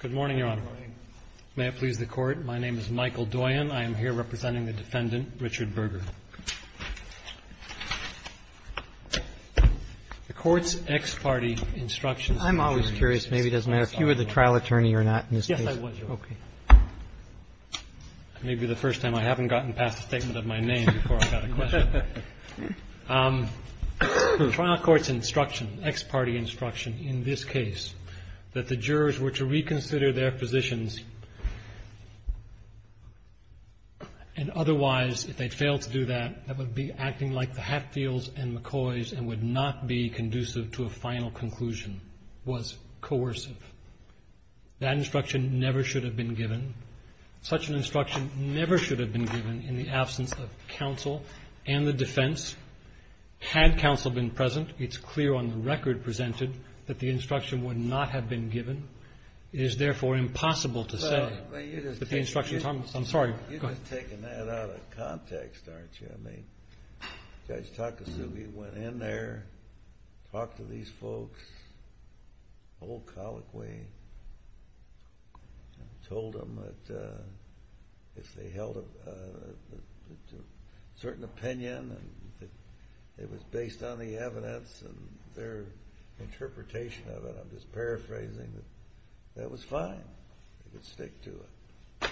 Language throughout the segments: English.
Good morning, Your Honor. May it please the Court, my name is Michael Doyon. I am here representing the defendant, Richard Berger. The Court's ex-party instructions... I'm always curious, maybe it doesn't matter if you were the trial attorney or not in this case. Yes, I was, Your Honor. Okay. It may be the first time I haven't gotten past a statement of my name before I got a question. The trial court's instruction, ex-party instruction in this case that the jurors were to reconsider their positions and otherwise, if they failed to do that, that would be acting like the Hatfields and McCoys and would not be conducive to a final conclusion was coercive. That instruction never should have been given. Such an instruction never should have been given in the absence of counsel and the defense. Had counsel been present, it's clear on the record presented that the instruction would not have been given. It is therefore impossible to say that the instructions... Well, you're just... I'm sorry, go ahead. You're just taking that out of context, aren't you? I mean, Judge Takasugi went in there, talked to these folks, the whole colloquy, and told them that if they held a certain opinion and it was based on the evidence and their interpretation of it, I'm just paraphrasing, that that was fine. They could stick to it.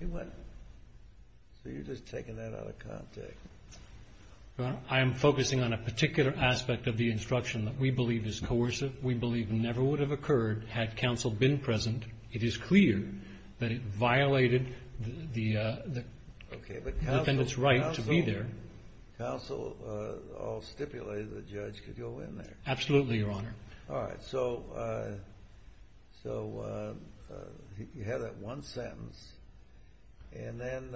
He went... So, you're just taking that out of context. Your Honor, I am focusing on a particular aspect of the instruction that we believe is coercive, we believe never would have occurred had counsel been present. It is clear that it violated the defendant's right to be there. Okay, but counsel all stipulated the judge could go in there. Absolutely, Your Honor. All right, so you have that one sentence, and then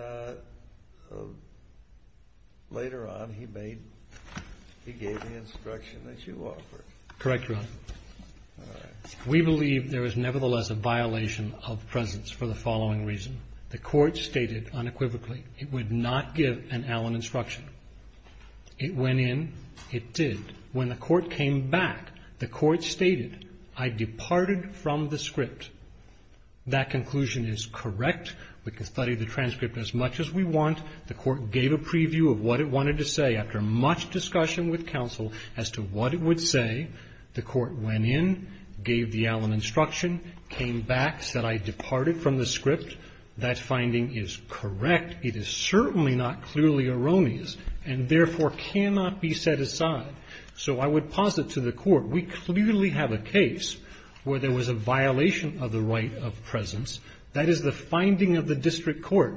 later on he gave the instruction that you offered. Correct, Your Honor. All right. We believe there is nevertheless a violation of presence for the following reason. The court stated unequivocally it would not give an Allen instruction. It went in, it did. When the court came back, the court stated, I departed from the script. That conclusion is correct. We can study the transcript as much as we want. The court gave a preview of what it wanted to say. After much discussion with counsel as to what it would say, the court went in, gave the Allen instruction, came back, said I departed from the script. That finding is correct. It is certainly not clearly erroneous, and therefore cannot be set aside. So I would posit to the court, we clearly have a case where there was a violation of the right of presence. That is the finding of the district court.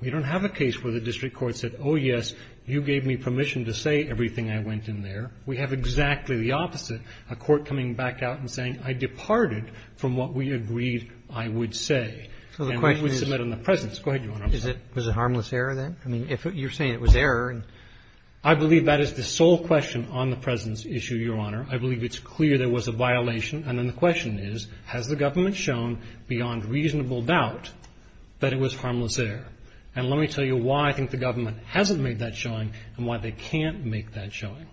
We don't have a case where the district court said, oh, yes, you gave me permission to say everything I went in there. We have exactly the opposite, a court coming back out and saying, I departed from what we agreed I would say. And we would submit on the presence. Go ahead, Your Honor. Is it a harmless error, then? I mean, you're saying it was error. I believe that is the sole question on the presence issue, Your Honor. I believe it's clear there was a violation. And then the question is, has the government shown beyond reasonable doubt that it was harmless error? And let me tell you why I think the government hasn't made that showing and why they can't make that showing.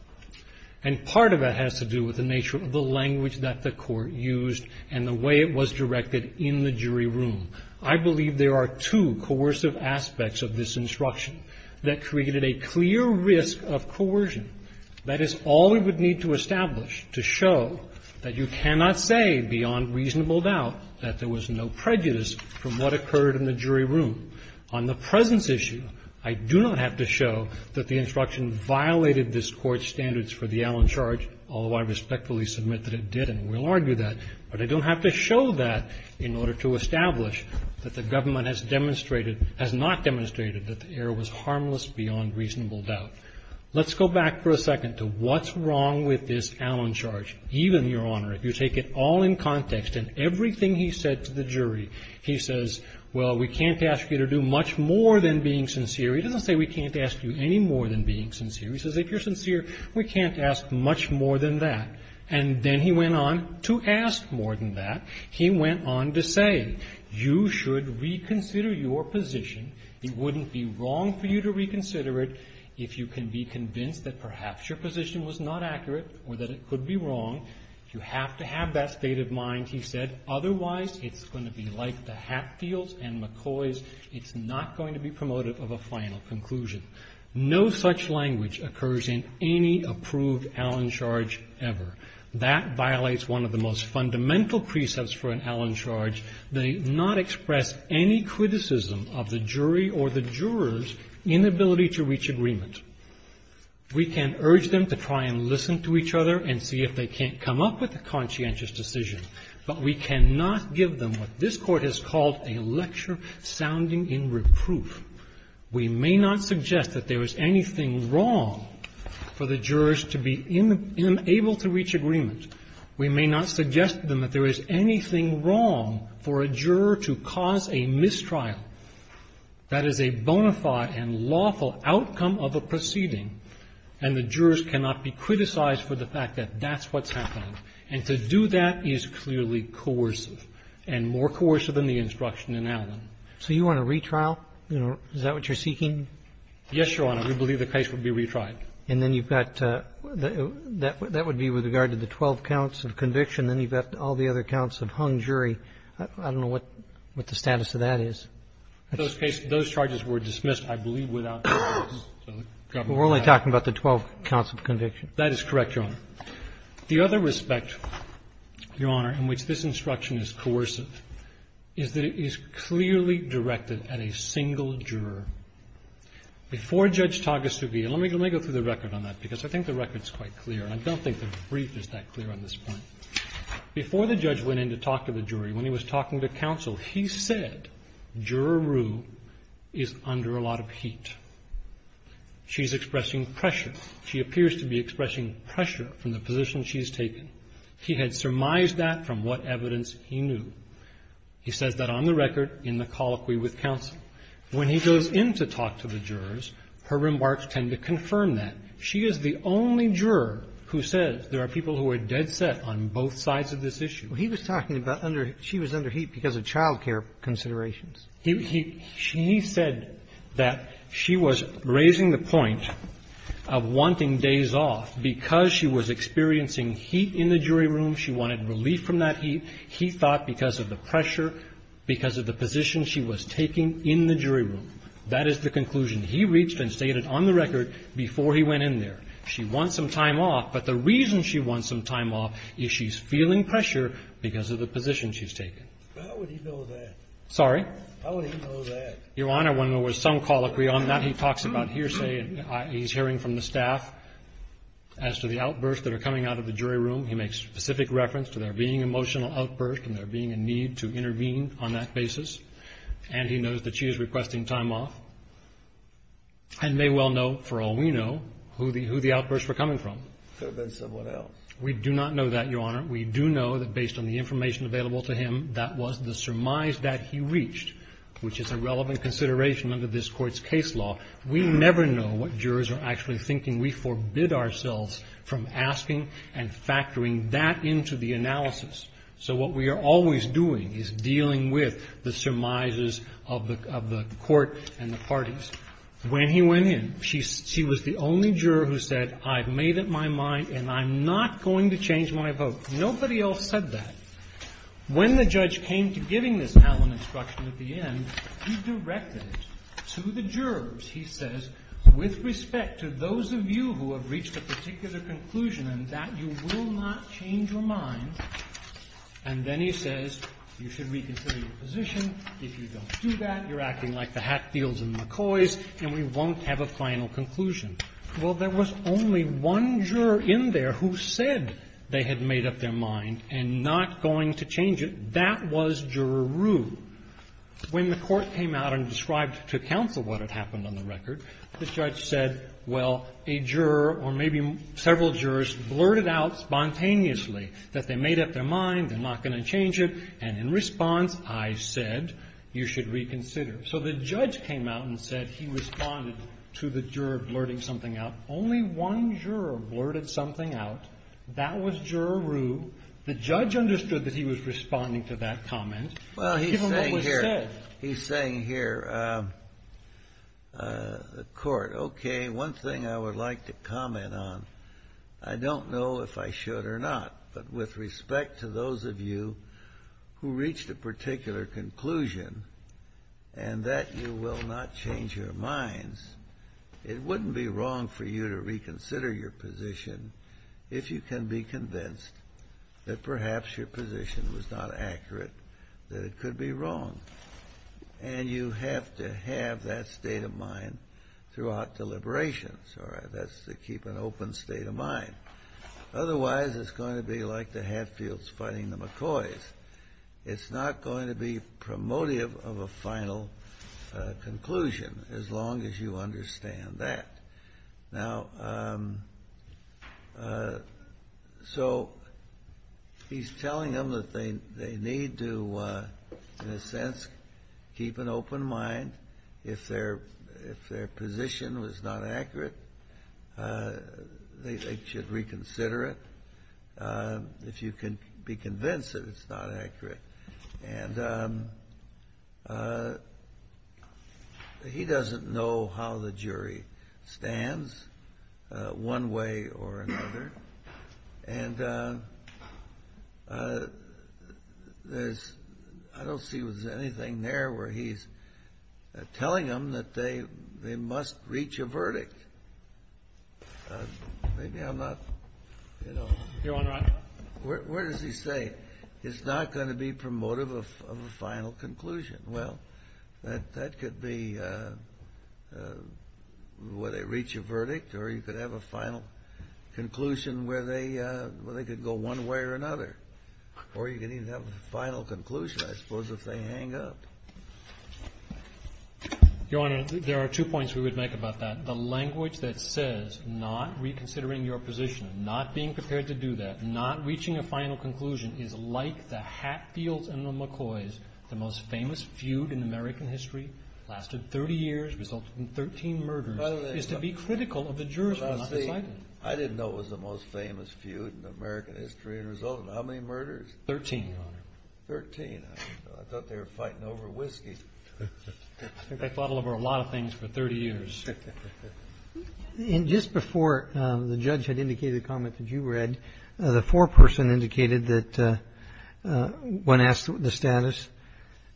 And part of that has to do with the nature of the language that the court used and the way it was directed in the jury room. I believe there are two coercive aspects of this instruction that created a clear risk of coercion. That is all we would need to establish to show that you cannot say beyond reasonable doubt that there was no prejudice from what occurred in the jury room. On the presence issue, I do not have to show that the instruction violated this Court's standards for the Allen charge, although I respectfully submit that it did, and we'll argue that, but I don't have to show that in order to establish that the government has demonstrated or has not demonstrated that the error was harmless beyond reasonable doubt. Let's go back for a second to what's wrong with this Allen charge. Even, Your Honor, if you take it all in context and everything he said to the jury, he says, well, we can't ask you to do much more than being sincere. He doesn't say we can't ask you any more than being sincere. He says if you're sincere, we can't ask much more than that. And then he went on to say, you should reconsider your position. It wouldn't be wrong for you to reconsider it if you can be convinced that perhaps your position was not accurate or that it could be wrong. You have to have that state of mind, he said, otherwise it's going to be like the Hatfields and McCoys. It's not going to be promotive of a final conclusion. No such language occurs in any approved Allen charge ever. That violates one of the most fundamental precepts for an Allen charge. They not express any criticism of the jury or the jurors' inability to reach agreement. We can urge them to try and listen to each other and see if they can't come up with a conscientious decision, but we cannot give them what this Court has called a lecture sounding in reproof. We may not suggest that there is anything wrong for the jurors to be unable to reach agreement. We may not suggest to them that there is anything wrong for a juror to cause a mistrial. That is a bona fide and lawful outcome of a proceeding, and the jurors cannot be criticized for the fact that that's what's happening. And to do that is clearly coercive, and more coercive than the instruction in Allen. Roberts. So you want a retrial? Is that what you're seeking? Yes, Your Honor. We believe the case will be retried. And then you've got the — that would be with regard to the 12 counts of conviction. Then you've got all the other counts of hung jury. I don't know what the status of that is. Those cases — those charges were dismissed, I believe, without the courts. We're only talking about the 12 counts of conviction. That is correct, Your Honor. The other respect, Your Honor, in which this instruction is coercive is that it is clearly directed at a single juror. Before Judge Tagasugi — and let me go through the record on that, because I think the record's quite clear. I don't think the brief is that clear on this point. Before the judge went in to talk to the jury, when he was talking to counsel, he said, Juror Rue is under a lot of heat. She's expressing pressure. She appears to be expressing pressure from the position she's taken. He had surmised that from what evidence he knew. He says that on the record in the colloquy with counsel. When he goes in to talk to the jurors, her remarks tend to confirm that. She is the only juror who says there are people who are dead set on both sides of this issue. He was talking about under — she was under heat because of child care considerations. He — he said that she was raising the point of wanting days off because she was experiencing heat in the jury room, she wanted relief from that heat. He thought because of the pressure, because of the position she was taking in the jury room. That is the conclusion he reached and stated on the record before he went in there. She wants some time off, but the reason she wants some time off is she's feeling pressure because of the position she's taken. Scalia. How would he know that? Waxman. Sorry? Scalia. How would he know that? Waxman. Your Honor, when there was some colloquy on that, he talks about hearsay. He's hearing from the staff as to the outbursts that are coming out of the jury room. He makes specific reference to there being emotional outbursts and there being a need to intervene on that basis. And he knows that she is requesting time off and may well know, for all we know, who the — who the outbursts were coming from. Could have been someone else. Waxman. We do not know that, Your Honor. We do know that based on the information available to him, that was the surmise that he reached, which is a relevant consideration under this Court's case law. We never know what jurors are actually thinking. We forbid ourselves from asking and factoring that into the analysis. So what we are always doing is dealing with the surmises of the court and the parties. When he went in, she was the only juror who said, I've made up my mind and I'm not going to change my vote. Nobody else said that. When the judge came to giving this Allen instruction at the end, he directed it to the jurors. He says, with respect to those of you who have reached a particular conclusion in that, you will not change your mind. And then he says, you should reconsider your position. If you don't do that, you're acting like the Hatfields and McCoys and we won't have a final conclusion. Well, there was only one juror in there who said they had made up their mind and not going to change it. That was Juror Rue. When the court came out and described to counsel what had happened on the record, the judge said, well, a juror or maybe several jurors blurted out spontaneously that they made up their mind, they're not going to change it, and in response, I said you should reconsider. So the judge came out and said he responded to the juror blurting something out. Only one juror blurted something out. That was Juror Rue. The judge understood that he was responding to that comment. Well, he's saying here, the court, okay, one thing I would like to comment on. I don't know if I should or not. But with respect to those of you who reached a particular conclusion and that you will not change your minds, it wouldn't be wrong for you to reconsider your position if you can be convinced that perhaps your position was not accurate, that it could be wrong. And you have to have that state of mind throughout deliberations, or that's to keep an open state of mind. Otherwise, it's going to be like the Hatfields fighting the McCoys. It's not going to be promotive of a final conclusion, as long as you understand that. Now, so he's telling them that they need to, in a sense, keep an open mind. If their position was not accurate, they should reconsider it. If you can be convinced that it's not accurate. And he doesn't know how the jury stands one way or another. And I don't see if there's anything there where he's telling them that they must reach a verdict. Maybe I'm not, you know. Your Honor. Where does he say it's not going to be promotive of a final conclusion? Well, that could be where they reach a verdict, or you could have a final conclusion where they could go one way or another. Or you can even have a final conclusion, I suppose, if they hang up. Your Honor, there are two points we would make about that. The language that says not reconsidering your position, not being prepared to do that, not reaching a final conclusion is like the Hatfields and the McCoys. The most famous feud in American history, lasted 30 years, resulted in 13 murders, is to be critical of the jurors who are not deciding. I didn't know it was the most famous feud in American history and resulted in how many murders? 13, Your Honor. 13. I thought they were fighting over whiskey. I think they fought over a lot of things for 30 years. And just before the judge had indicated a comment that you read, the foreperson indicated that, when asked the status,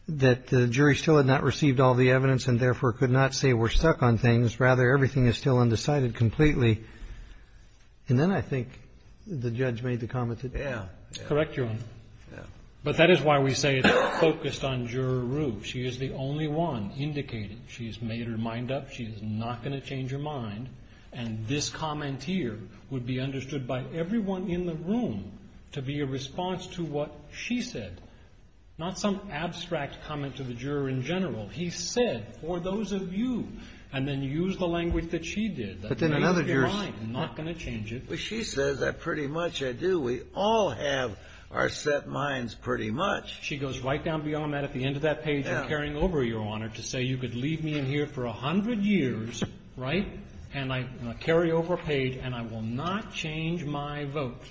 that the jury still had not received all the evidence and therefore could not say we're stuck on things. Rather, everything is still undecided completely. And then I think the judge made the comment that you read. Correct, Your Honor. But that is why we say it's focused on Juror Rue. She is the only one indicated. She has made her mind up. She is not going to change her mind. And this comment here would be understood by everyone in the room to be a response to what she said. Not some abstract comment to the juror in general. He said, for those of you, and then used the language that she did. But then another juror's. Not going to change it. But she says that pretty much I do. We all have our set minds pretty much. She goes right down beyond that at the end of that page and carrying over, Your Honor, to say you could leave me in here for 100 years, right, and I carry over a page and I will not change my vote.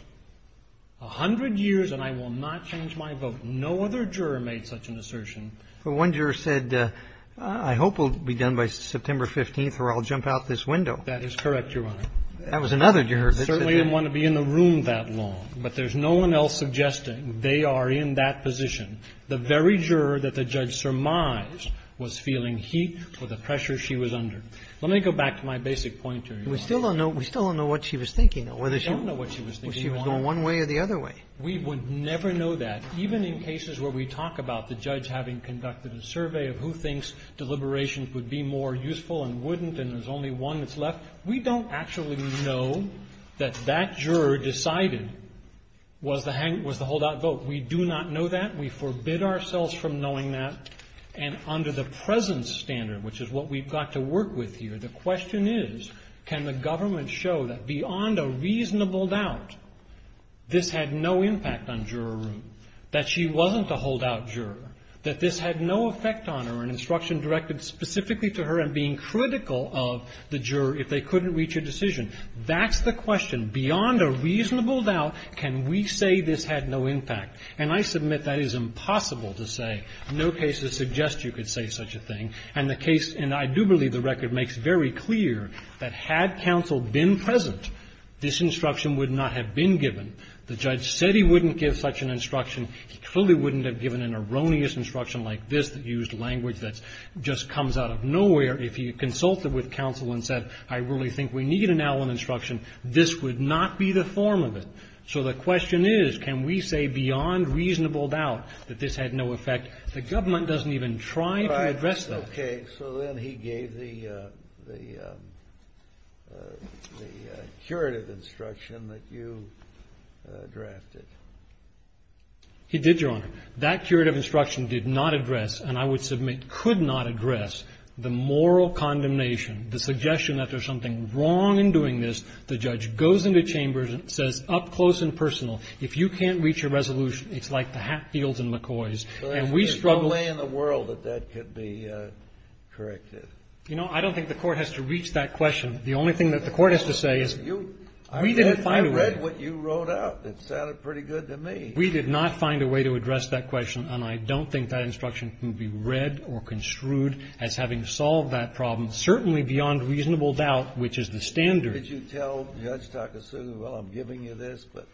A hundred years and I will not change my vote. No other juror made such an assertion. But one juror said, I hope we'll be done by September 15th or I'll jump out this window. That is correct, Your Honor. That was another juror that said that. I certainly didn't want to be in the room that long. But there's no one else suggesting they are in that position. The very juror that the judge surmised was feeling heat for the pressure she was under. Let me go back to my basic point, Your Honor. We still don't know what she was thinking, or whether she was going one way or the other way. We would never know that, even in cases where we talk about the judge having conducted a survey of who thinks deliberations would be more useful and wouldn't, and there's only one that's left. We don't actually know that that juror decided was the holdout vote. We do not know that. We forbid ourselves from knowing that. And under the present standard, which is what we've got to work with here, the question is, can the government show that beyond a reasonable doubt, this had no impact on juror room, that she wasn't the holdout juror, that this had no effect on her and instruction directed specifically to her and being critical of the juror if they couldn't reach a decision. That's the question. Beyond a reasonable doubt, can we say this had no impact? And I submit that is impossible to say. No case would suggest you could say such a thing. And the case, and I do believe the record makes very clear, that had counsel been present, this instruction would not have been given. The judge said he wouldn't give such an instruction. He clearly wouldn't have given an erroneous instruction like this that used language that just comes out of nowhere if he had consulted with counsel and said, I really think we need an Allen instruction. This would not be the form of it. So the question is, can we say beyond reasonable doubt that this had no effect? The government doesn't even try to address that. Kennedy. So then he gave the curative instruction that you drafted. He did, Your Honor. That curative instruction did not address, and I would submit could not address, the moral condemnation, the suggestion that there's something wrong in doing this. The judge goes into chambers and says up close and personal, if you can't reach a resolution, it's like the Hatfields and McCoys. And we struggle So there's no way in the world that that could be corrected. You know, I don't think the Court has to reach that question. The only thing that the Court has to say is, we didn't find a way. I read what you wrote out. It sounded pretty good to me. We did not find a way to address that question, and I don't think that instruction can be read or construed as having solved that problem, certainly beyond reasonable doubt, which is the standard. Did you tell Judge Takasu, well, I'm giving you this, but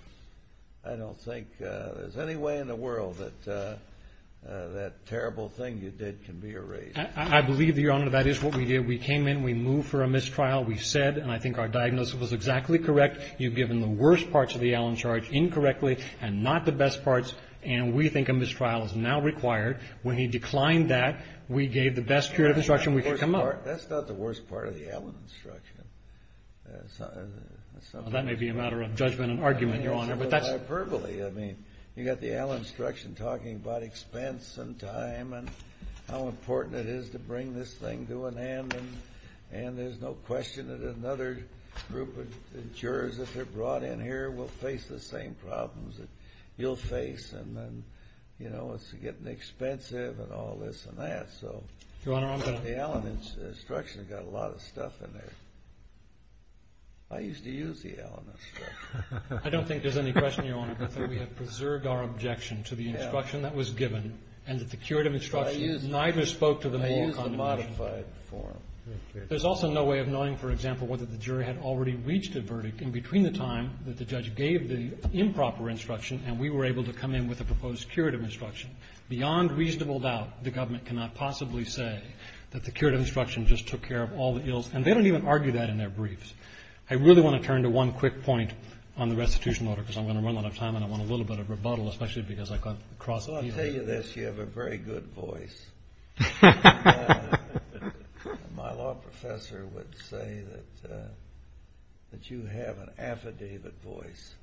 I don't think there's any way in the world that that terrible thing you did can be erased? I believe, Your Honor, that is what we did. We came in. We moved for a mistrial. We said, and I think our diagnosis was exactly correct, you've given the worst parts of the Allen charge incorrectly and not the best parts, and we think a mistrial is now required. That's not the worst part of the Allen instruction. That may be a matter of judgment and argument, Your Honor, but that's hyperbole. I mean, you've got the Allen instruction talking about expense and time and how important it is to bring this thing to an end, and there's no question that another group of jurors, if they're brought in here, will face the same problems that you'll face. And then, you know, it's getting expensive and all this and that. So the Allen instruction has got a lot of stuff in there. I used to use the Allen instruction. I don't think there's any question, Your Honor, that we have preserved our objection to the instruction that was given and that the curative instruction neither spoke to the moral condemnation. I used the modified form. There's also no way of knowing, for example, whether the jury had already reached a verdict in between the time that the judge gave the improper instruction and we were able to come in with a proposed curative instruction. Beyond reasonable doubt, the government cannot possibly say that the curative instruction just took care of all the ills. And they don't even argue that in their briefs. I really want to turn to one quick point on the restitution order because I'm going to run out of time, and I want a little bit of rebuttal, especially because I got across a few of these. Well, I'll tell you this. You have a very good voice. My law professor would say that you have an affidavit voice.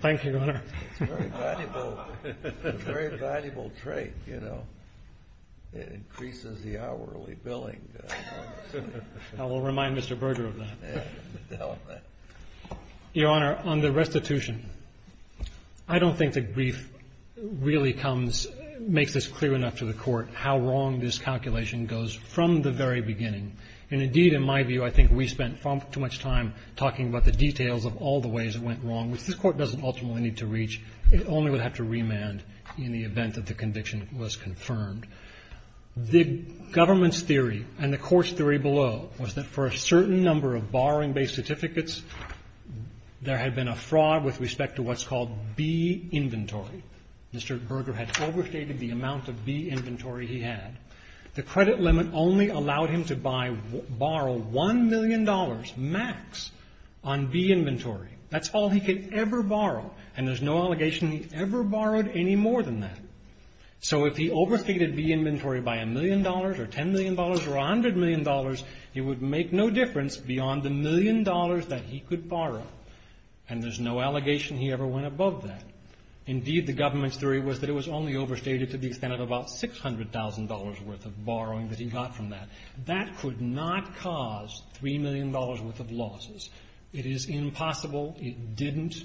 Thank you, Your Honor. It's a very valuable trait, you know. It increases the hourly billing. I will remind Mr. Berger of that. Your Honor, on the restitution, I don't think the brief really comes — makes this clear enough to the Court how wrong this calculation goes from the very beginning. And indeed, in my view, I think we spent far too much time talking about the details of all the ways it went wrong, which this Court doesn't ultimately need to reach. It only would have to remand in the event that the conviction was confirmed. The government's theory and the Court's theory below was that for a certain number of borrowing-based certificates, there had been a fraud with respect to what's called B inventory. Mr. Berger had overstated the amount of B inventory he had. The credit limit only allowed him to borrow $1 million max on B inventory. That's all he could ever borrow. And there's no allegation he ever borrowed any more than that. So if he overstated B inventory by $1 million or $10 million or $100 million, it would make no difference beyond the million dollars that he could borrow. And there's no allegation he ever went above that. Indeed, the government's theory was that it was only overstated to the extent of about $600,000 worth of borrowing that he got from that. That could not cause $3 million worth of losses. It is impossible. It didn't.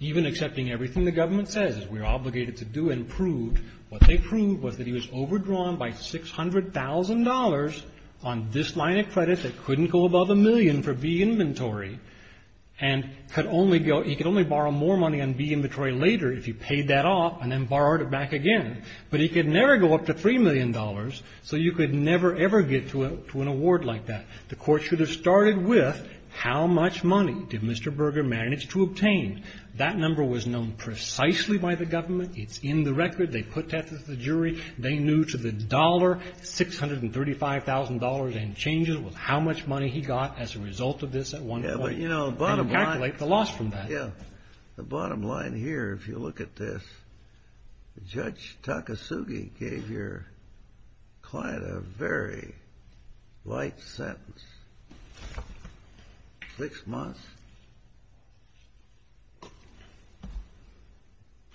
Even accepting everything the government says, we're obligated to do and prove, what they proved was that he was overdrawn by $600,000 on this line of credit that couldn't go above a million for B inventory. And he could only borrow more money on B inventory later if he paid that off and then borrowed it back again. But he could never go up to $3 million. So you could never, ever get to an award like that. The court should have started with how much money did Mr. Berger manage to obtain? That number was known precisely by the government. It's in the record. They put that to the jury. They knew to the dollar, $635,000 in changes was how much money he got as a result of this at one point and calculate the loss from that. Yeah, the bottom line here, if you look at this, Judge Takasugi gave your client a very light sentence, six months.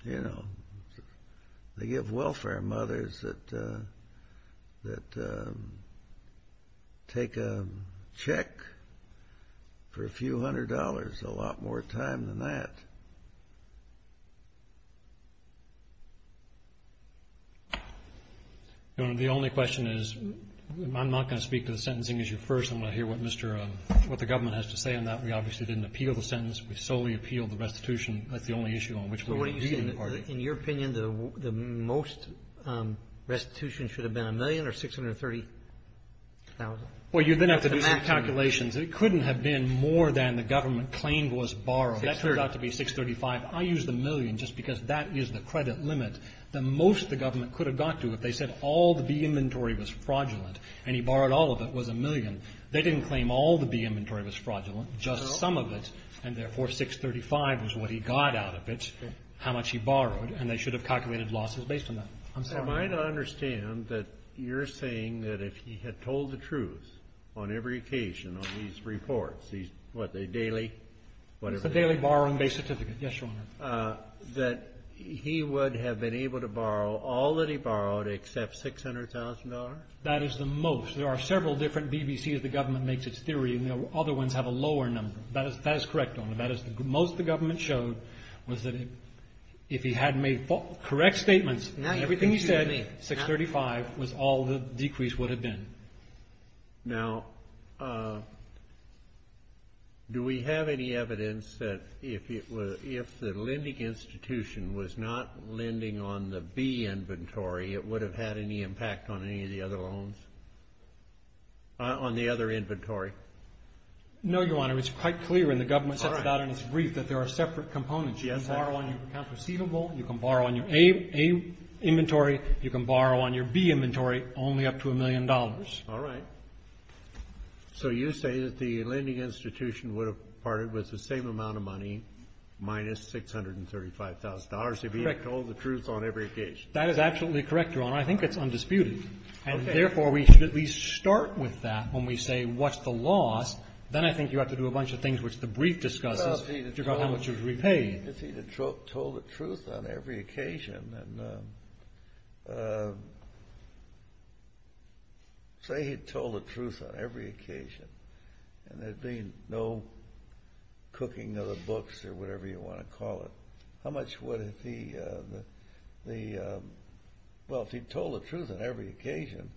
They give welfare mothers that take a check for a few hundred dollars and that's a lot more time than that. The only question is, I'm not going to speak to the sentencing issue first. I'm going to hear what Mr. What the government has to say on that. We obviously didn't appeal the sentence. We solely appealed the restitution. That's the only issue on which we were leading the party. In your opinion, the most restitution should have been a million or $630,000? Well, you then have to do some calculations. It couldn't have been more than the government claimed was borrowed. That turned out to be $635,000. I used the million just because that is the credit limit. The most the government could have got to if they said all the B inventory was fraudulent and he borrowed all of it was a million. They didn't claim all the B inventory was fraudulent, just some of it. And therefore, $635,000 was what he got out of it, how much he borrowed, and they should have calculated losses based on that. I'm sorry. Am I to understand that you're saying that if he had told the truth on every occasion on these reports, these what, the daily, whatever? It's the daily borrowing-based certificate. Yes, Your Honor. That he would have been able to borrow all that he borrowed except $600,000? That is the most. There are several different BBCs the government makes its theory, and the other ones have a lower number. That is correct, Your Honor. That is the most the government showed was that if he had made correct statements and everything he said, $635,000 was all the decrease would have been. Now, do we have any evidence that if the lending institution was not lending on the B inventory, it would have had any impact on any of the other loans, on the other inventory? No, Your Honor. It's quite clear in the government's brief that there are separate components. You can borrow on your account receivable, you can borrow on your A inventory, you can borrow on your B inventory, only up to a million dollars. All right. So you say that the lending institution would have parted with the same amount of money, minus $635,000, if he had told the truth on every occasion? That is absolutely correct, Your Honor. I think it's undisputed. And therefore, we should at least start with that when we say, what's the loss? Then I think you have to do a bunch of things, which the brief discusses, to figure out how much was repaid. If he had told the truth on every occasion, and there'd been no cooking of the books, or whatever you want to call it, how much would the, well, if he'd told the truth on every occasion,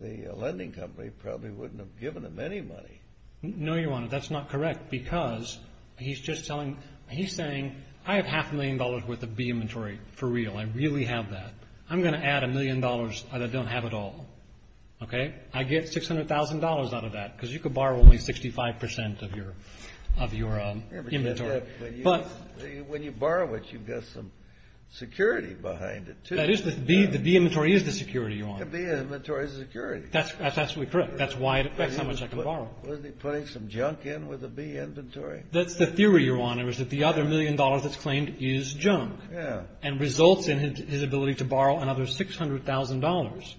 the lending company probably wouldn't have given him any money. No, Your Honor, that's not correct. Because he's just telling, he's saying, I have half a million dollars worth of B inventory, for real. I really have that. I'm going to add a million dollars that I don't have at all. OK? I get $600,000 out of that, because you could borrow only 65% of your inventory. When you borrow it, you've got some security behind it, too. That is, the B inventory is the security, Your Honor. The B inventory is the security. That's absolutely correct. That's why it affects how much I can borrow. Wasn't he putting some junk in with the B inventory? That's the theory, Your Honor, is that the other million dollars that's claimed is junk, and results in his ability to borrow another $600,000.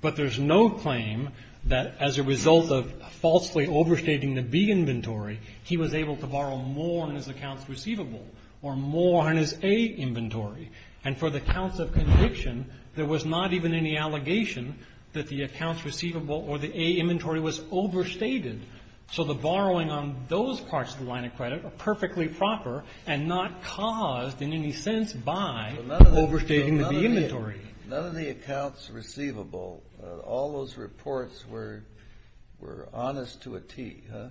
But there's no claim that, as a result of falsely overstating the B inventory, he was able to borrow more in his accounts receivable, or more in his A inventory. And for the counts of conviction, there was not even any allegation that the accounts receivable or the A inventory was overstated. So the borrowing on those parts of the line of credit are perfectly proper, and not caused, in any sense, by overstating the B inventory. None of the accounts receivable, all those reports were honest to a T, huh?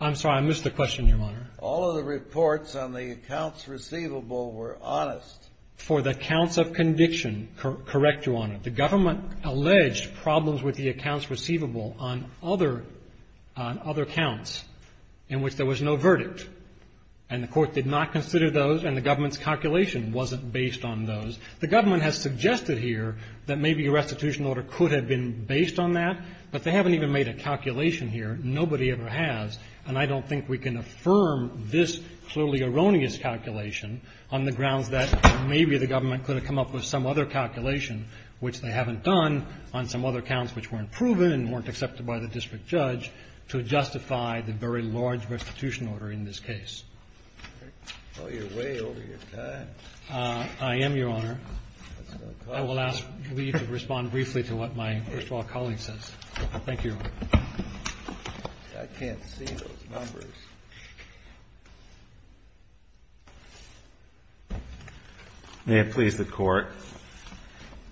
I'm sorry, I missed the question, Your Honor. All of the reports on the accounts receivable were honest. For the counts of conviction, correct, Your Honor. The government alleged problems with the accounts receivable on other accounts in which there was no verdict. And the Court did not consider those, and the government's calculation wasn't based on those. The government has suggested here that maybe a restitution order could have been based on that, but they haven't even made a calculation here. Nobody ever has. And I don't think we can affirm this clearly erroneous calculation on the grounds that maybe the government could have come up with some other calculation which they haven't done on some other accounts which weren't proven and weren't accepted by the district judge to justify the very large restitution order in this case. You're way over your time. I am, Your Honor. I will ask for you to respond briefly to what my first of all colleague says. Thank you, Your Honor. I can't see those numbers. May it please the Court.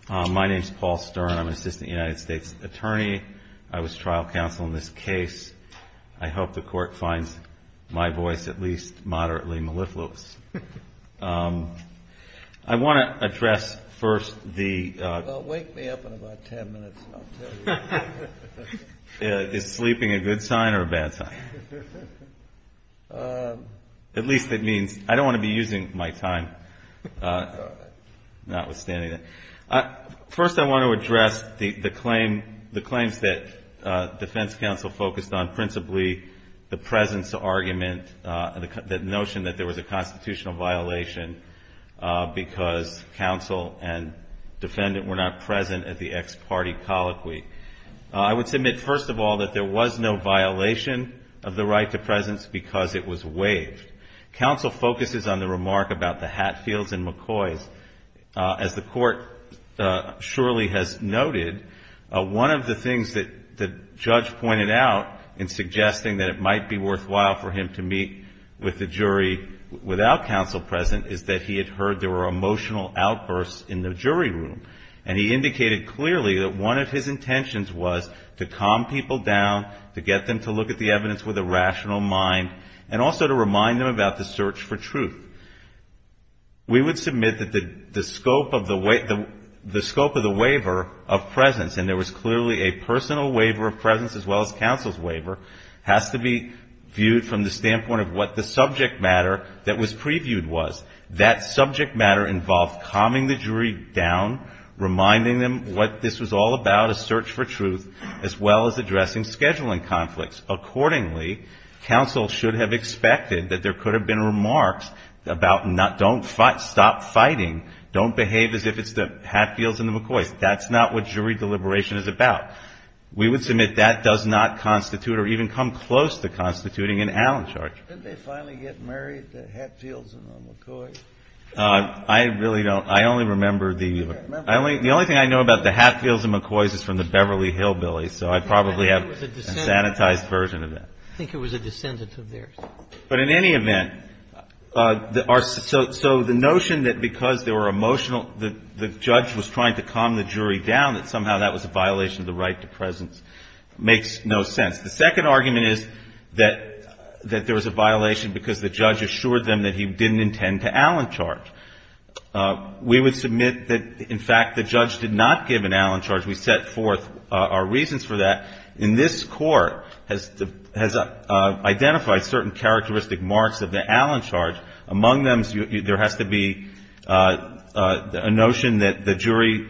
My name is Paul Stern. I'm an assistant United States attorney. I was trial counsel in this case. I hope the Court finds my voice at least moderately mellifluous. I want to address first the... Well, wake me up in about 10 minutes and I'll tell you. Is sleeping a good sign or a bad sign? At least it means I don't want to be using my time. Notwithstanding that, first I want to address the claims that defense counsel focused on, principally the presence argument, the notion that there was a constitutional violation because counsel and defendant were not present at the ex parte colloquy. I would submit first of all that there was no violation of the right to presence because it was waived. Counsel focuses on the remark about the Hatfields and McCoys. As the Court surely has noted, one of the things that the judge pointed out in suggesting that it might be worthwhile for him to meet with the jury without counsel present is that he had heard there were emotional outbursts in the jury room. And he indicated clearly that one of his intentions was to calm people down, to get them to look at the evidence with a rational mind, and also to remind them about the search for truth. We would submit that the scope of the waiver of presence, and there was clearly a personal waiver of presence as well as counsel's waiver, has to be viewed from the standpoint of what the subject matter that was previewed was. That subject matter involved calming the jury down, reminding them what this was all about, a search for truth, as well as addressing scheduling conflicts. Accordingly, counsel should have expected that there could have been remarks about not, don't fight, stop fighting, don't behave as if it's the Hatfields and the McCoys. That's not what jury deliberation is about. We would submit that does not constitute or even come close to constituting an Allen charge. Did they finally get married, the Hatfields and the McCoys? I really don't. I only remember the, the only thing I know about the Hatfields and McCoys is from the Beverly Hillbillies. So I probably have a sanitized version of that. I think it was a descendant of theirs. But in any event, so the notion that because there were emotional, the judge was trying to calm the jury down, that somehow that was a violation of the right to presence makes no sense. The second argument is that there was a violation because the judge assured them that he didn't intend to Allen charge. We would submit that in fact the judge did not give an Allen charge. We set forth our reasons for that. In this court has identified certain characteristic marks of the Allen charge. Among them there has to be a notion that the jury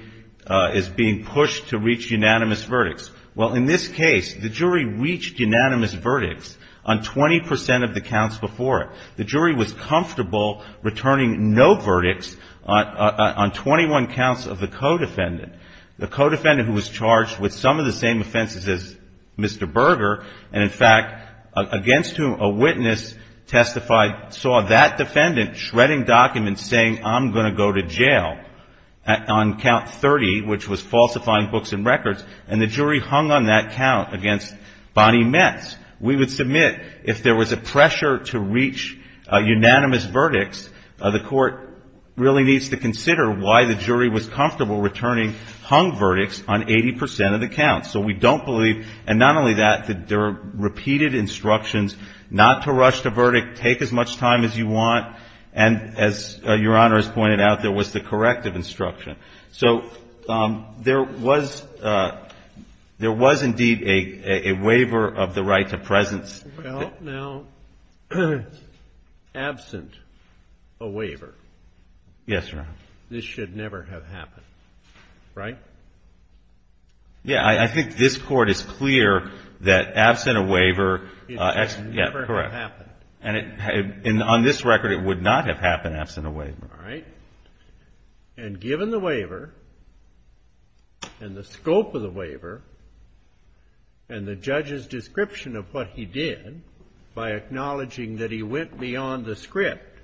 is being pushed to reach unanimous verdicts. Well, in this case, the jury reached unanimous verdicts on 20% of the counts before it. The jury was comfortable returning no verdicts on 21 counts of the co-defendant. The co-defendant who was charged with some of the same offenses as Mr. Berger, and in fact against whom a witness testified, saw that defendant shredding documents saying, I'm going to go to jail on count 30, which was falsifying books and records. And the jury hung on that count against Bonnie Metz. We would submit if there was a pressure to reach unanimous verdicts, the court really needs to consider why the jury was comfortable returning hung verdicts on 80% of the counts. So we don't believe, and not only that, that there are repeated instructions not to rush the verdict, take as much time as you want, and as Your Honor has pointed out, there was the corrective instruction. So there was indeed a waiver of the right to presence. Well, now, absent a waiver, this should never have happened, right? Yeah, I think this Court is clear that absent a waiver, yeah, correct. And on this record, it would not have happened absent a waiver. All right. And given the waiver and the scope of the waiver and the judge's description of what he did by acknowledging that he went beyond the script,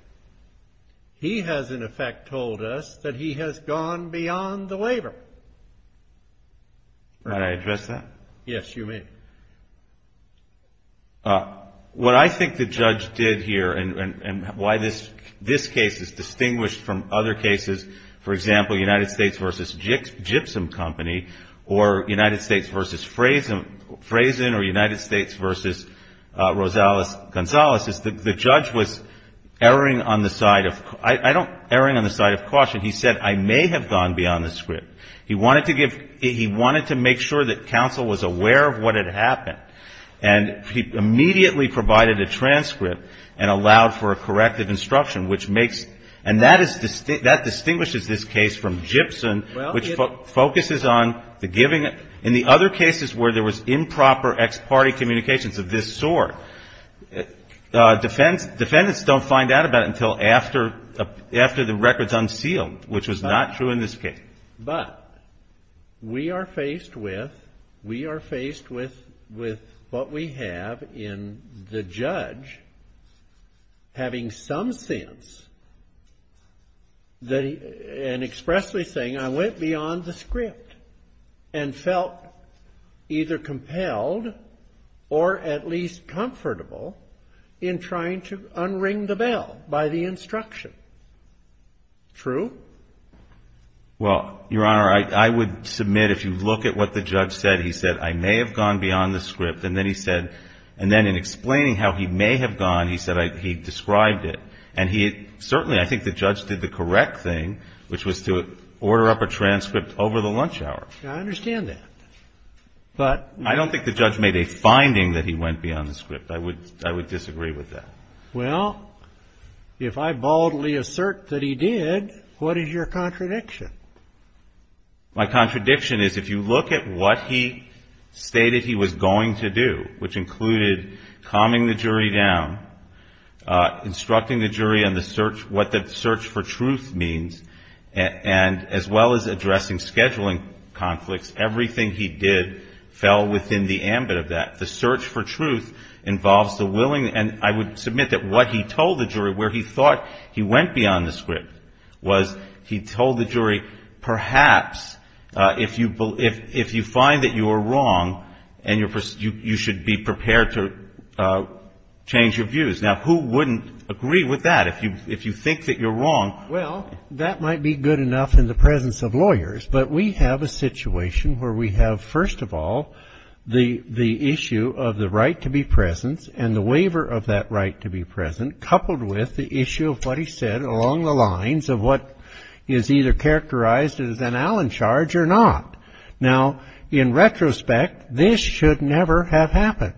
he has in effect told us that he has gone beyond the waiver. May I address that? Yes, you may. What I think the judge did here and why this case is distinguished from other cases, for example, United States v. Gypsum Company, or United States v. Frazen, or United States v. Rosales-Gonzalez, is the judge was erring on the side of, I don't, erring on the side of caution. He said, I may have gone beyond the script. He wanted to give, he wanted to make sure that counsel was aware of what had happened. And he immediately provided a transcript and allowed for a corrective instruction, which makes, and that is, that distinguishes this case from Gypsum, which focuses on the giving, in the other cases where there was improper ex parte communications of this sort, defendants don't find out about it until after the record's unsealed, which was not true in this case. But we are faced with, we are faced with, with what we have in the judge having some sense that he, and expressly saying, I went beyond the script and felt either compelled or at least comfortable in trying to unring the bell by the instruction. True? Well, Your Honor, I would submit if you look at what the judge said, he said, I may have gone beyond the script. And then he said, and then in explaining how he may have gone, he said he described it. And he certainly, I think the judge did the correct thing, which was to order up a transcript over the lunch hour. I understand that. But I don't think the judge made a finding that he went beyond the script. I would, I would disagree with that. Well, if I boldly assert that he did, what is your contradiction? My contradiction is if you look at what he stated he was going to do, which included calming the jury down, instructing the jury on the search, what the search for truth means, and as well as addressing scheduling conflicts, everything he did fell within the ambit of that. The search for truth involves the willing, and I would submit that what he told the jury, where he thought he went beyond the script, was he told the jury, perhaps if you find that you are wrong, and you should be prepared to change your views. Now, who wouldn't agree with that if you think that you're wrong? Well, that might be good enough in the presence of lawyers. But we have a situation where we have, first of all, the issue of the right to be present, and the waiver of that right to be present, coupled with the issue of what he said along the lines of what is either characterized as an Allen charge or not. Now, in retrospect, this should never have happened.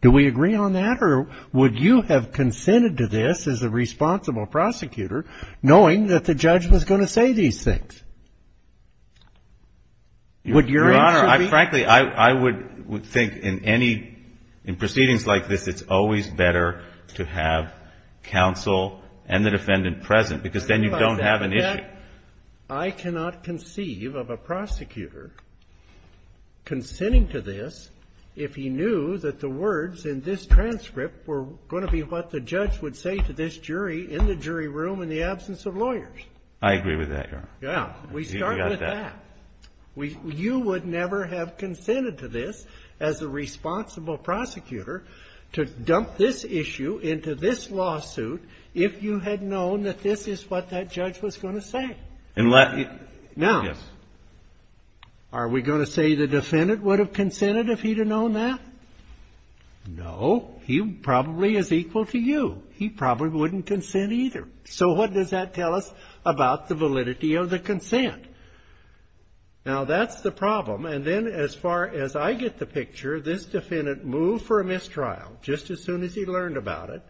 Do we agree on that, or would you have consented to this as a responsible prosecutor, knowing that the judge was going to say these things? Would your answer be? Your Honor, frankly, I would think in proceedings like this, it's always better to have counsel and the defendant present, because then you don't have an issue. I cannot conceive of a prosecutor consenting to this if he knew that the words in this transcript were going to be what the judge would say to this jury in the jury room in the absence of lawyers. I agree with that, Your Honor. Yeah, we start with that. You would never have consented to this as a responsible prosecutor to dump this issue into this lawsuit if you had known that this is what that judge was going to say. Now, are we going to say the defendant would have consented if he'd have known that? No. He probably is equal to you. He probably wouldn't consent either. So what does that tell us about the validity of the consent? Now, that's the problem. And then as far as I get the picture, this defendant moved for a mistrial just as soon as he learned about it,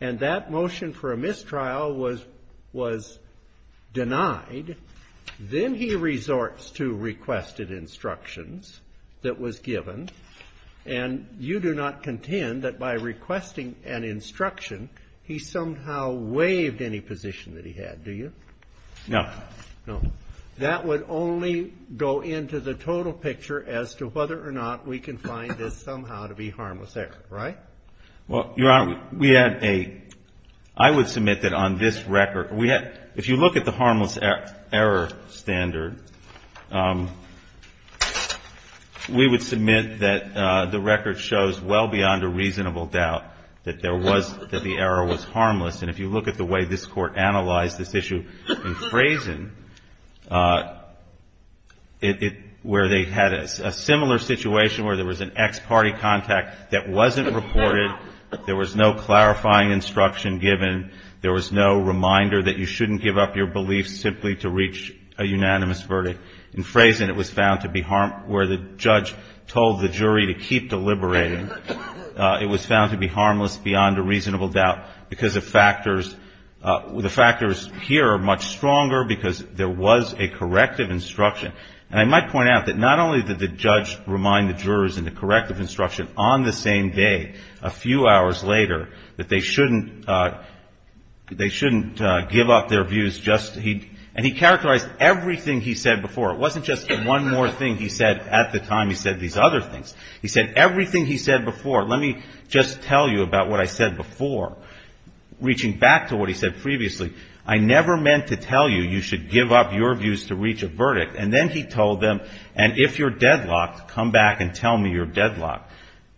and that motion for a mistrial was denied. Then he resorts to requested instructions that was given. And you do not contend that by requesting an instruction, he somehow waived any position that he had, do you? No. No. That would only go into the total picture as to whether or not we can find this somehow to be harmless error, right? Well, Your Honor, we had a – I would submit that on this record, we had – if you look at the harmless error standard, we would submit that the record shows well beyond a reasonable doubt that there was – that the error was harmless. And if you look at the way this Court analyzed this issue in Frazin, where they had a similar situation where there was an ex-party contact that wasn't reported, there was no clarifying instruction given, there was no reminder that you shouldn't give up your beliefs simply to reach a unanimous verdict. In Frazin, it was found to be – where the judge told the jury to keep deliberating, it was found to be harmless beyond a reasonable doubt because of factors – the factors here are much stronger because there was a corrective instruction. And I might point out that not only did the judge remind the jurors in the corrective instruction on the same day, a few hours later, that they shouldn't – they shouldn't give up their views just – and he characterized everything he said before. It wasn't just one more thing he said at the time he said these other things. He said everything he said before – let me just tell you about what I said before, reaching back to what he said previously. I never meant to tell you you should give up your views to reach a verdict. And then he told them, and if you're deadlocked, come back and tell me you're deadlocked.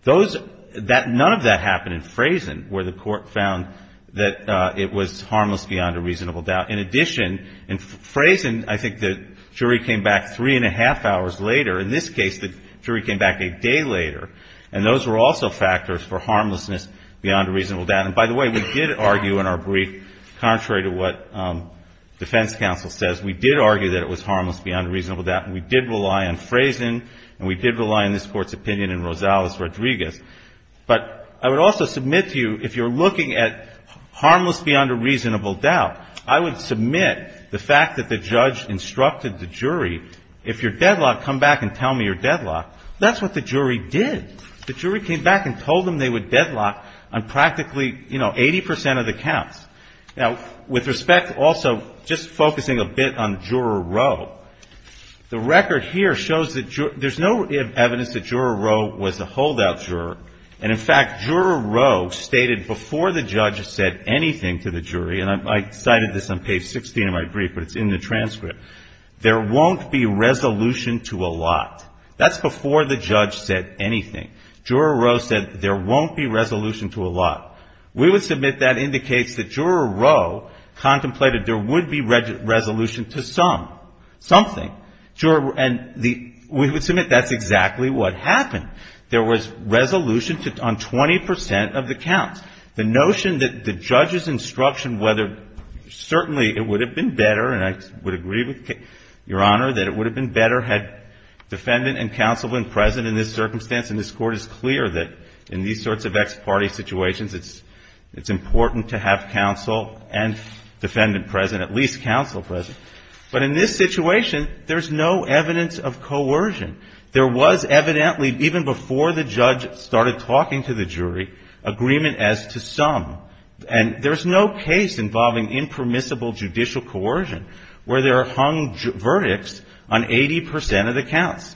Those – none of that happened in Frazin, where the court found that it was harmless beyond a reasonable doubt. In addition, in Frazin, I think the jury came back three and a half hours later. In this case, the jury came back a day later. And those were also factors for harmlessness beyond a reasonable doubt. And by the way, we did argue in our brief, contrary to what defense counsel says, we did argue that it was harmless beyond a reasonable doubt. We did rely on Frazin, and we did rely on this court's opinion in Rosales-Rodriguez. But I would also submit to you, if you're looking at harmless beyond a reasonable doubt, I would submit the fact that the judge instructed the jury, if you're deadlocked, come back and tell me you're deadlocked. That's what the jury did. The jury came back and told them they were deadlocked on practically, you know, 80 percent of the counts. Now, with respect also, just focusing a bit on Juror Row, the record here shows that there's no evidence that Juror Row was a holdout juror. And in fact, Juror Row stated before the judge said anything to the jury, and I cited this on page 16 of my brief, but it's in the transcript, there won't be resolution to a lot. That's before the judge said anything. Juror Row said there won't be resolution to a lot. We would submit that indicates that Juror Row contemplated there would be resolution to some. Something. And we would submit that's exactly what happened. There was resolution on 20 percent of the counts. The notion that the judge's instruction, whether certainly it would have been better, and I would agree with Your Honor that it would have been better had defendant and counsel been present in this circumstance, and this Court is clear that in these sorts of ex parte situations, it's important to have counsel and defendant present, at least counsel present. But in this situation, there's no evidence of coercion. There was evidently, even before the judge started talking to the jury, agreement as to some. And there's no case involving impermissible judicial coercion, where there are hung verdicts on 80 percent of the counts.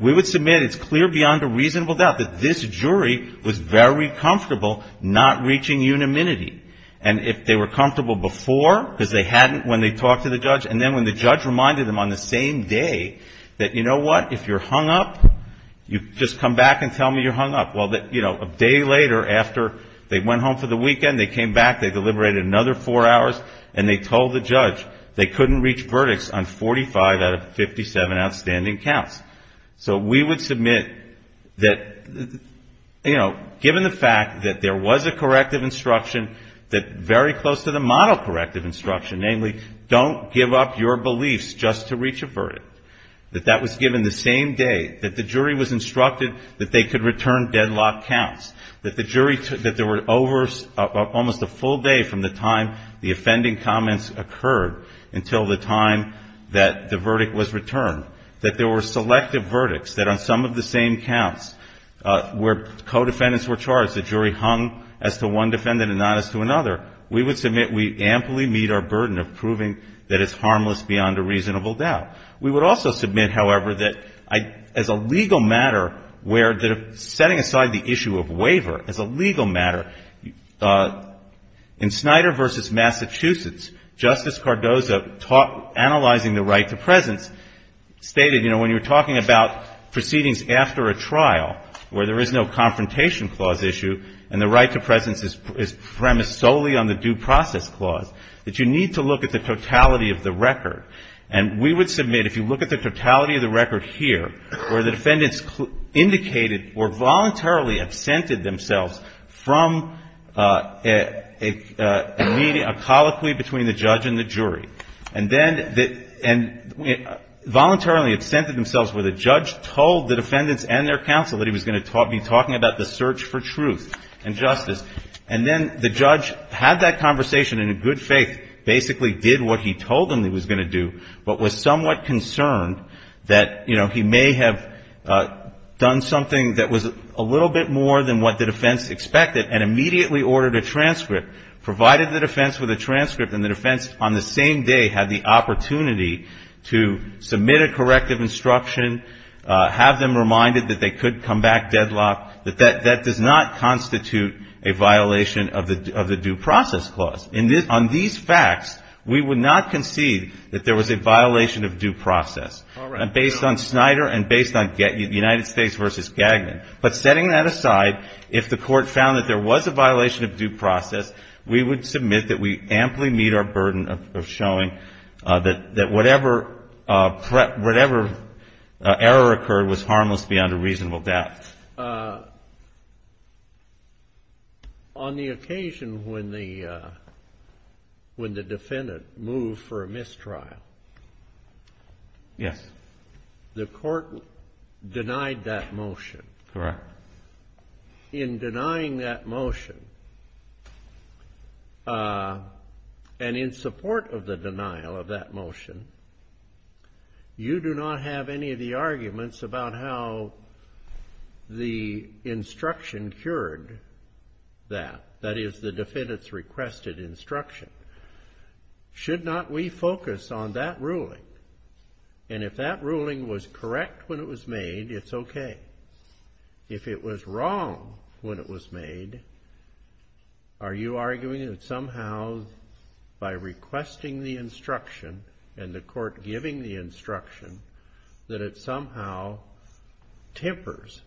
We would submit it's clear beyond a reasonable doubt that this jury was very comfortable not reaching unanimity. And if they were comfortable before, because they hadn't when they talked to the judge, and then when the judge reminded them on the same day that, you know what, if you're hung up, you just come back and tell me you're hung up. Well, you know, a day later after they went home for the weekend, they came back, they deliberated another four hours, and they told the judge they couldn't reach verdicts on 45 out of 57 outstanding counts. So we would submit that, you know, given the fact that there was a corrective instruction that very close to the model corrective instruction, namely, don't give up your beliefs just to reach a verdict, that that was given the same day that the jury was instructed that they could return deadlock counts, that the jury, that there were over almost a full day from the time the offending comments occurred until the time that the verdict was returned, that there were selective verdicts, that on some of the same counts where co-defendants were charged, the jury hung as to one defendant and not as to another, we would submit we amply meet our burden of proving that it's harmless beyond a reasonable doubt. We would also submit, however, that as a legal matter, where setting aside the issue of waiver, as a legal matter, in Snyder versus Massachusetts, Justice Cardozo, analyzing the right to presence, stated, you know, when you're talking about proceedings after a trial, where there is no confrontation clause issue, and the right to presence is premised solely on the due process clause, that you need to look at the totality of the record. And we would submit, if you look at the totality of the record here, where the defendants indicated or voluntarily absented themselves from a colloquy between the judge and the jury. And then voluntarily absented themselves where the judge told the defendants and their counsel that he was going to be talking about the search for truth and justice. And then the judge had that conversation in a good faith, basically did what he told them he was going to do, but was somewhat concerned that, you know, he may have done something that was a little bit more than what the defense expected and immediately ordered a transcript, provided the defense with a transcript, and the defense on the same day had the opportunity to submit a corrective instruction, have them reminded that they could come back deadlocked, that that does not constitute a violation of the due process clause. On these facts, we would not concede that there was a violation of due process. And based on Snyder and based on United States v. Gagnon. But setting that aside, if the court found that there was a violation of due process, we would submit that we amply meet our burden of showing that whatever error occurred was harmless beyond a reasonable doubt. Yes. On the occasion when the defendant moved for a mistrial. Yes. The court denied that motion. Correct. In denying that motion, and in support of the denial of that motion, you do not have any of the arguments about how the instruction cured that. That is, the defendant's requested instruction. Should not we focus on that ruling? And if that ruling was correct when it was made, it's okay. If it was wrong when it was made, are you arguing that somehow by requesting the instruction and the court giving the instruction, that it somehow tempers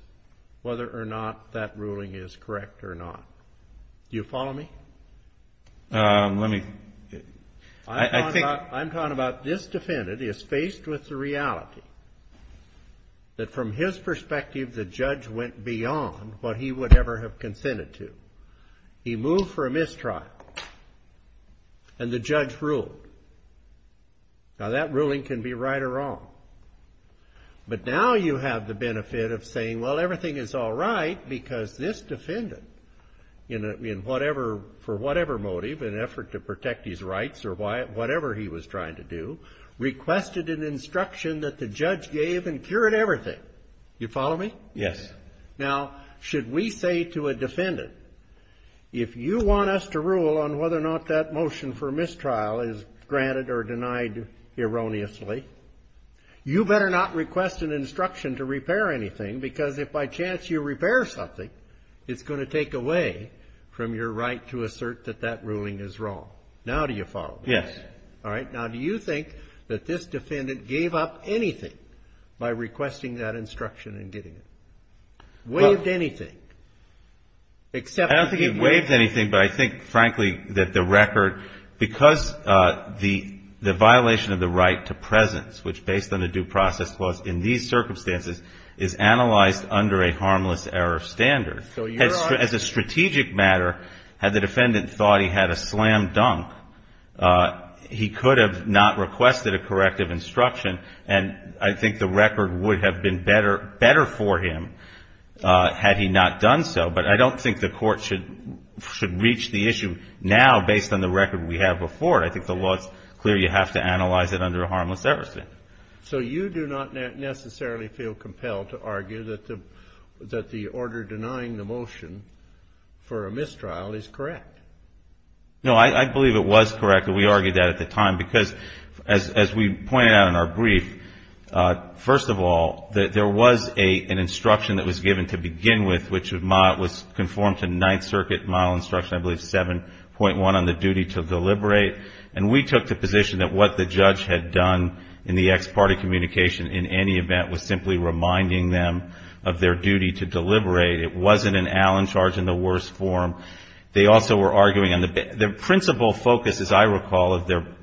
whether or not that ruling is correct or not? Do you follow me? Let me. I'm talking about this defendant is faced with the reality that from his perspective the judge went beyond what he would ever have consented to. He moved for a mistrial. And the judge ruled. Now, that ruling can be right or wrong. But now you have the benefit of saying, well, everything is all right because this defendant, for whatever motive, in an effort to protect his rights or whatever he was trying to do, requested an instruction that the judge gave and cured everything. You follow me? Yes. Now, should we say to a defendant, if you want us to rule on whether or not that motion for mistrial is granted or denied erroneously, you better not request an instruction to repair anything because if by chance you repair something, it's going to take away from your right to assert that that ruling is wrong. Now, do you follow me? Yes. All right. Now, do you think that this defendant gave up anything by requesting that instruction and getting it? Waived anything? I don't think he waived anything. But I think, frankly, that the record, because the violation of the right to presence, which based on the due process clause in these circumstances, is analyzed under a harmless error of standard, as a strategic matter, had the defendant thought he had a slam dunk, he could have not requested a corrective instruction. And I think the record would have been better for him had he not done so. But I don't think the court should reach the issue now based on the record we have before. I think the law is clear. You have to analyze it under a harmless error standard. So you do not necessarily feel compelled to argue that the order denying the motion for a mistrial is correct? No, I believe it was correct. We argued that at the time because as we pointed out in our brief, first of all, there was an instruction that was given to begin with, which was conformed to Ninth Circuit model instruction, I believe 7.1 on the duty to deliberate. And we took the position that what the judge had done in the ex parte communication in any event was simply reminding them of their duty to deliberate. It wasn't an Allen charge in the worst form. They also were arguing on the principle focus, as I recall,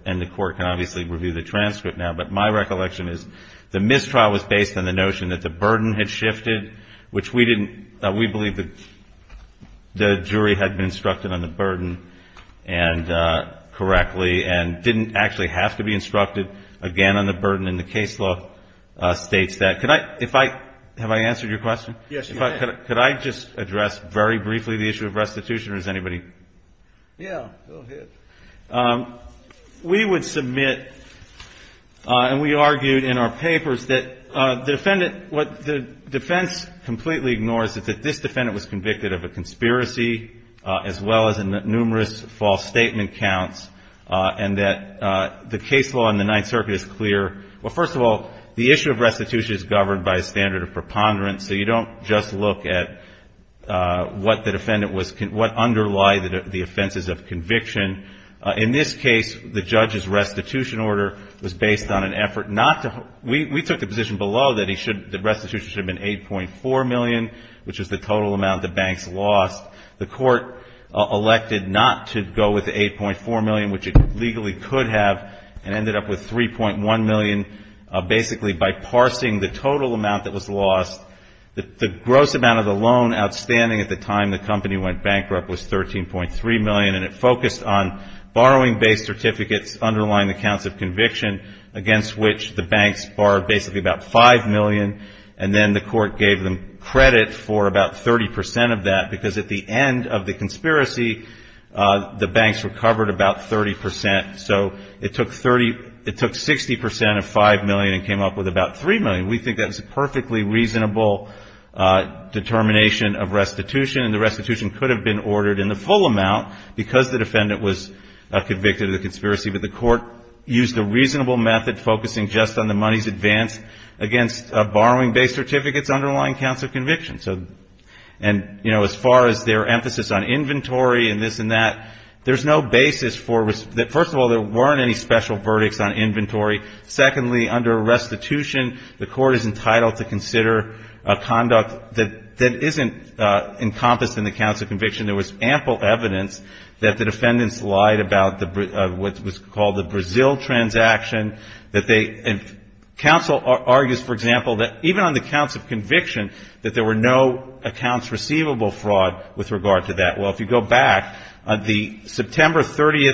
and the court can obviously review the transcript now, but my recollection is the mistrial was based on the notion that the burden had shifted, which we believe the jury had been instructed on the burden correctly and didn't actually have to be instructed again on the burden. And the case law states that. Have I answered your question? Yes, you have. Could I just address very briefly the issue of restitution or is anybody? Yeah, go ahead. We would submit and we argued in our papers that the defendant, what the defense completely ignores is that this defendant was convicted of a conspiracy as well as numerous false statement counts and that the case law in the Ninth Circuit is clear. Well, first of all, the issue of restitution is governed by a standard of preponderance, so you don't just look at what the defendant was, what underlie the offenses of conviction. In this case, the judge's restitution order was based on an effort not to, we took the position below that the restitution should have been $8.4 million, which is the total amount the banks lost. The court elected not to go with $8.4 million, which it legally could have, and ended up with $3.1 million basically by parsing the total amount that was lost. The gross amount of the loan outstanding at the time the company went bankrupt was $13.3 million and it focused on borrowing-based certificates underlying the counts of conviction against which the banks borrowed basically about $5 million and then the court gave them credit for about 30 percent of that because at the end of the conspiracy, the banks recovered about 30 percent. So it took 60 percent of $5 million and came up with about $3 million. We think that was a perfectly reasonable determination of restitution and the restitution could have been ordered in the full amount because the defendant was convicted of the conspiracy, but the court used a reasonable method focusing just on the money's advance against borrowing-based certificates underlying counts of conviction. And, you know, as far as their emphasis on inventory and this and that, there's no basis for, first of all, there weren't any special verdicts on inventory. Secondly, under restitution, the court is entitled to consider conduct that isn't encompassed in the counts of conviction. There was ample evidence that the defendants lied about what was called the Brazil transaction. And counsel argues, for example, that even on the counts of conviction that there were no accounts receivable fraud with regard to that. Well, if you go back, the September 30,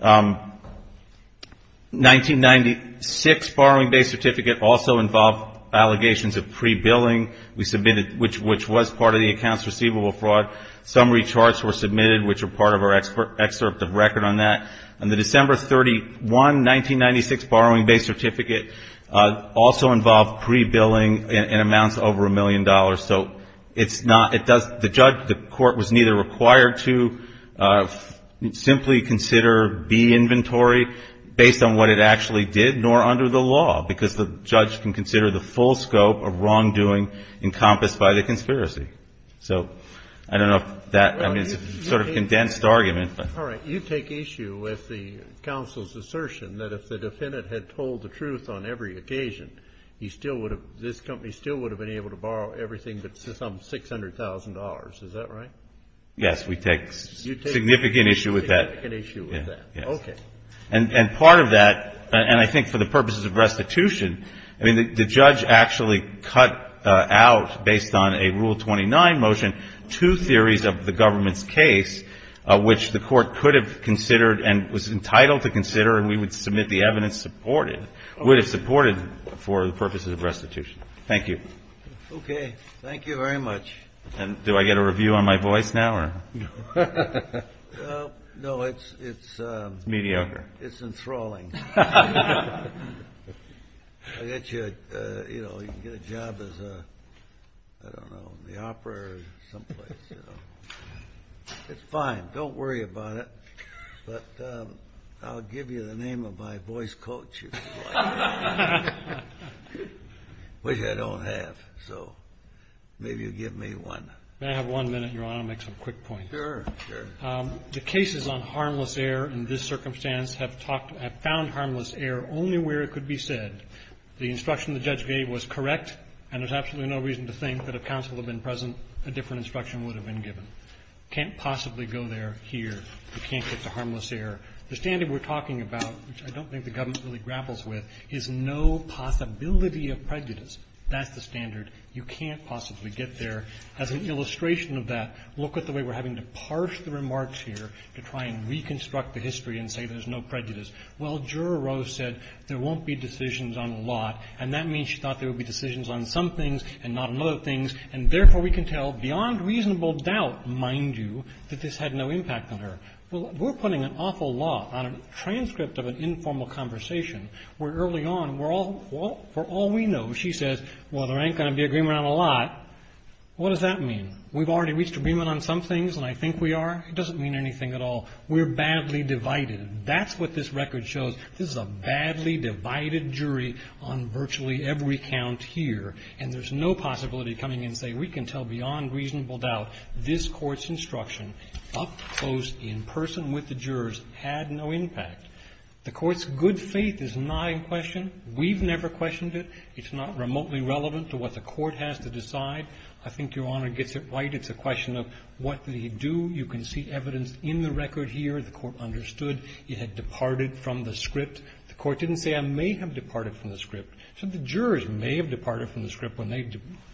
1996, borrowing-based certificate also involved allegations of pre-billing, which was part of the accounts receivable fraud. Summary charts were submitted, which are part of our excerpt of record on that. On the December 31, 1996, borrowing-based certificate also involved pre-billing in amounts over $1 million. So it's not the judge, the court was neither required to simply consider B inventory based on what it actually did, nor under the law, because the judge can consider the full scope of wrongdoing encompassed by the conspiracy. So I don't know if that sort of condensed argument. All right. You take issue with the counsel's assertion that if the defendant had told the truth on every occasion, this company still would have been able to borrow everything but some $600,000. Is that right? Yes. We take significant issue with that. Significant issue with that. Yes. Okay. And part of that, and I think for the purposes of restitution, I mean, the judge actually cut out, based on a Rule 29 motion, two theories of the government's case, which the court could have considered and was entitled to consider, and we would submit the evidence supported, would have supported for the purposes of restitution. Thank you. Okay. Thank you very much. And do I get a review on my voice now? No, it's enthralling. I'll get you, you know, you can get a job as a, I don't know, in the opera or someplace. It's fine. Don't worry about it. But I'll give you the name of my voice coach, which I don't have. So maybe you'll give me one. May I have one minute, Your Honor? I'll make some quick points. Sure, sure. The cases on harmless error in this circumstance have found harmless error only where it could be said the instruction the judge gave was correct, and there's absolutely no reason to think that if counsel had been present, a different instruction would have been given. Can't possibly go there here. You can't get to harmless error. The standard we're talking about, which I don't think the government really grapples with, is no possibility of prejudice. That's the standard. You can't possibly get there. As an illustration of that, look at the way we're having to parse the remarks here to try and reconstruct the history and say there's no prejudice. Well, Juror Rose said there won't be decisions on a lot, and that means she thought there would be decisions on some things and not on other things, and therefore we can tell beyond reasonable doubt, mind you, that this had no impact on her. Well, we're putting an awful lot on a transcript of an informal conversation where early on we're all we know. She says, well, there ain't going to be agreement on a lot. What does that mean? We've already reached agreement on some things, and I think we are? It doesn't mean anything at all. We're badly divided. That's what this record shows. This is a badly divided jury on virtually every count here, and there's no possibility coming in saying we can tell beyond reasonable doubt this Court's instruction up close in person with the jurors had no impact. The Court's good faith is not in question. We've never questioned it. It's not remotely relevant to what the Court has to decide. I think Your Honor gets it right. It's a question of what did he do. You can see evidence in the record here. The Court understood it had departed from the script. The Court didn't say I may have departed from the script. It said the jurors may have departed from the script when they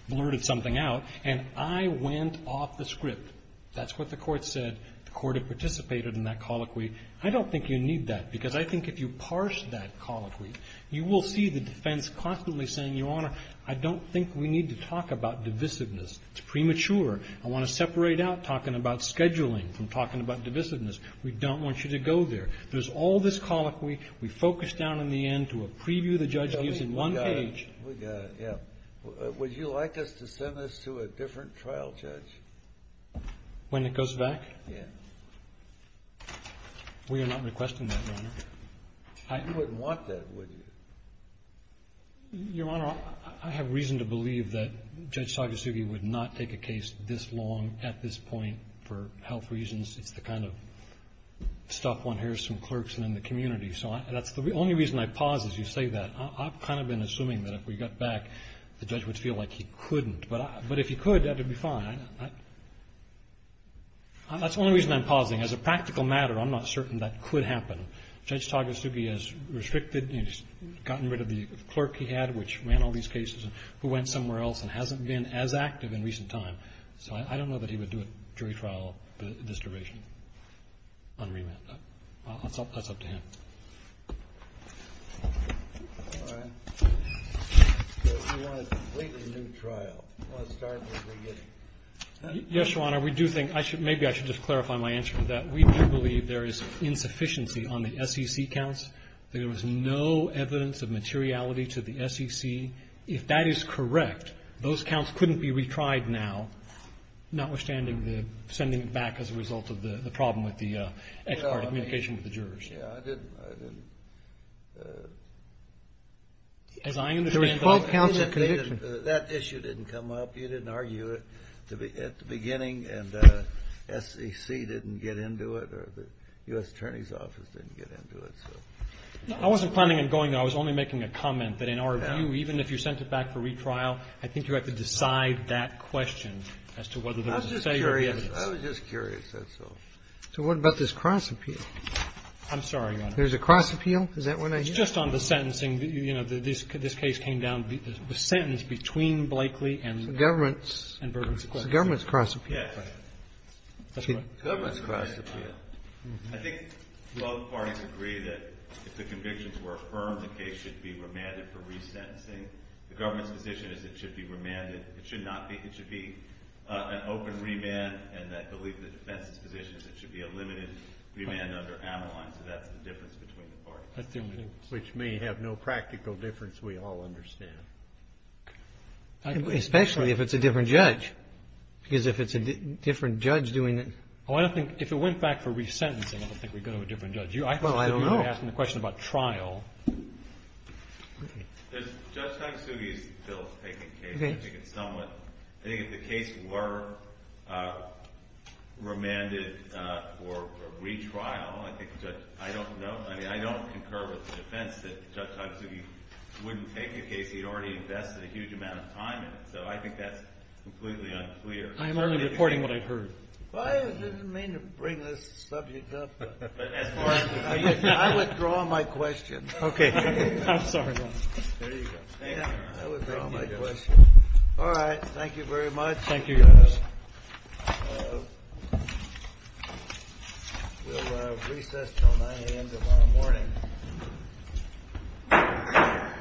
blurted something out, and I went off the script. That's what the Court said. The Court had participated in that colloquy. I don't think you need that because I think if you parse that colloquy, you will see the defense constantly saying, Your Honor, I don't think we need to talk about divisiveness. It's premature. I want to separate out talking about scheduling from talking about divisiveness. We don't want you to go there. There's all this colloquy. We focus down in the end to a preview the judge gives in one page. We got it. We got it, yeah. Would you like us to send this to a different trial judge? When it goes back? Yeah. We are not requesting that, Your Honor. You wouldn't want that, would you? Your Honor, I have reason to believe that Judge Sagasugi would not take a case this long at this point for health reasons. It's the kind of stuff one hears from clerks and in the community. So that's the only reason I pause as you say that. I've kind of been assuming that if we got back, the judge would feel like he couldn't. But if he could, that would be fine. That's the only reason I'm pausing. As a practical matter, I'm not certain that could happen. Judge Sagasugi has restricted and gotten rid of the clerk he had, which ran all these cases, who went somewhere else and hasn't been as active in recent time. So I don't know that he would do a jury trial this duration on remand. Well, that's up to him. All right. So if you want a completely new trial, you want to start at the beginning. Yes, Your Honor. We do think – maybe I should just clarify my answer to that. We do believe there is insufficiency on the SEC counts, that there was no evidence of materiality to the SEC. If that is correct, those counts couldn't be retried now, notwithstanding the sending it back as a result of the problem with the expert communication with the jurors. Yeah, I didn't – I didn't. As I understand it, that issue didn't come up. You didn't argue it at the beginning, and the SEC didn't get into it, or the U.S. Attorney's Office didn't get into it. I wasn't planning on going there. I was only making a comment that in our view, even if you sent it back for retrial, I think you have to decide that question as to whether there was a failure of the evidence. I was just curious. I was just curious. That's all. So what about this cross-appeal? I'm sorry, Your Honor. There's a cross-appeal? Is that what I hear? It's just on the sentencing. You know, this case came down, the sentence between Blakely and Burgess. It's the government's cross-appeal. Yes. That's right. The government's cross-appeal. I think both parties agree that if the convictions were affirmed, the case should be remanded for resentencing. The government's position is it should be remanded. It should not be. It should be an open remand. And I believe the defense's position is it should be a limited remand under Avalon. So that's the difference between the parties. Which may have no practical difference, we all understand. Especially if it's a different judge. Because if it's a different judge doing it. Oh, I don't think if it went back for resentencing, I don't think we'd go to a different judge. Well, I don't know. You're asking the question about trial. Judge Togsugi is still taking the case. I think it's somewhat. I think if the case were remanded for retrial, I don't know. I mean, I don't concur with the defense that Judge Togsugi wouldn't take the case. He'd already invested a huge amount of time in it. So I think that's completely unclear. I'm only reporting what I've heard. Well, I didn't mean to bring this subject up. I withdraw my question. Okay. I'm sorry. There you go. I withdraw my question. All right. Thank you very much. Thank you. We'll recess until 9 a.m. tomorrow morning.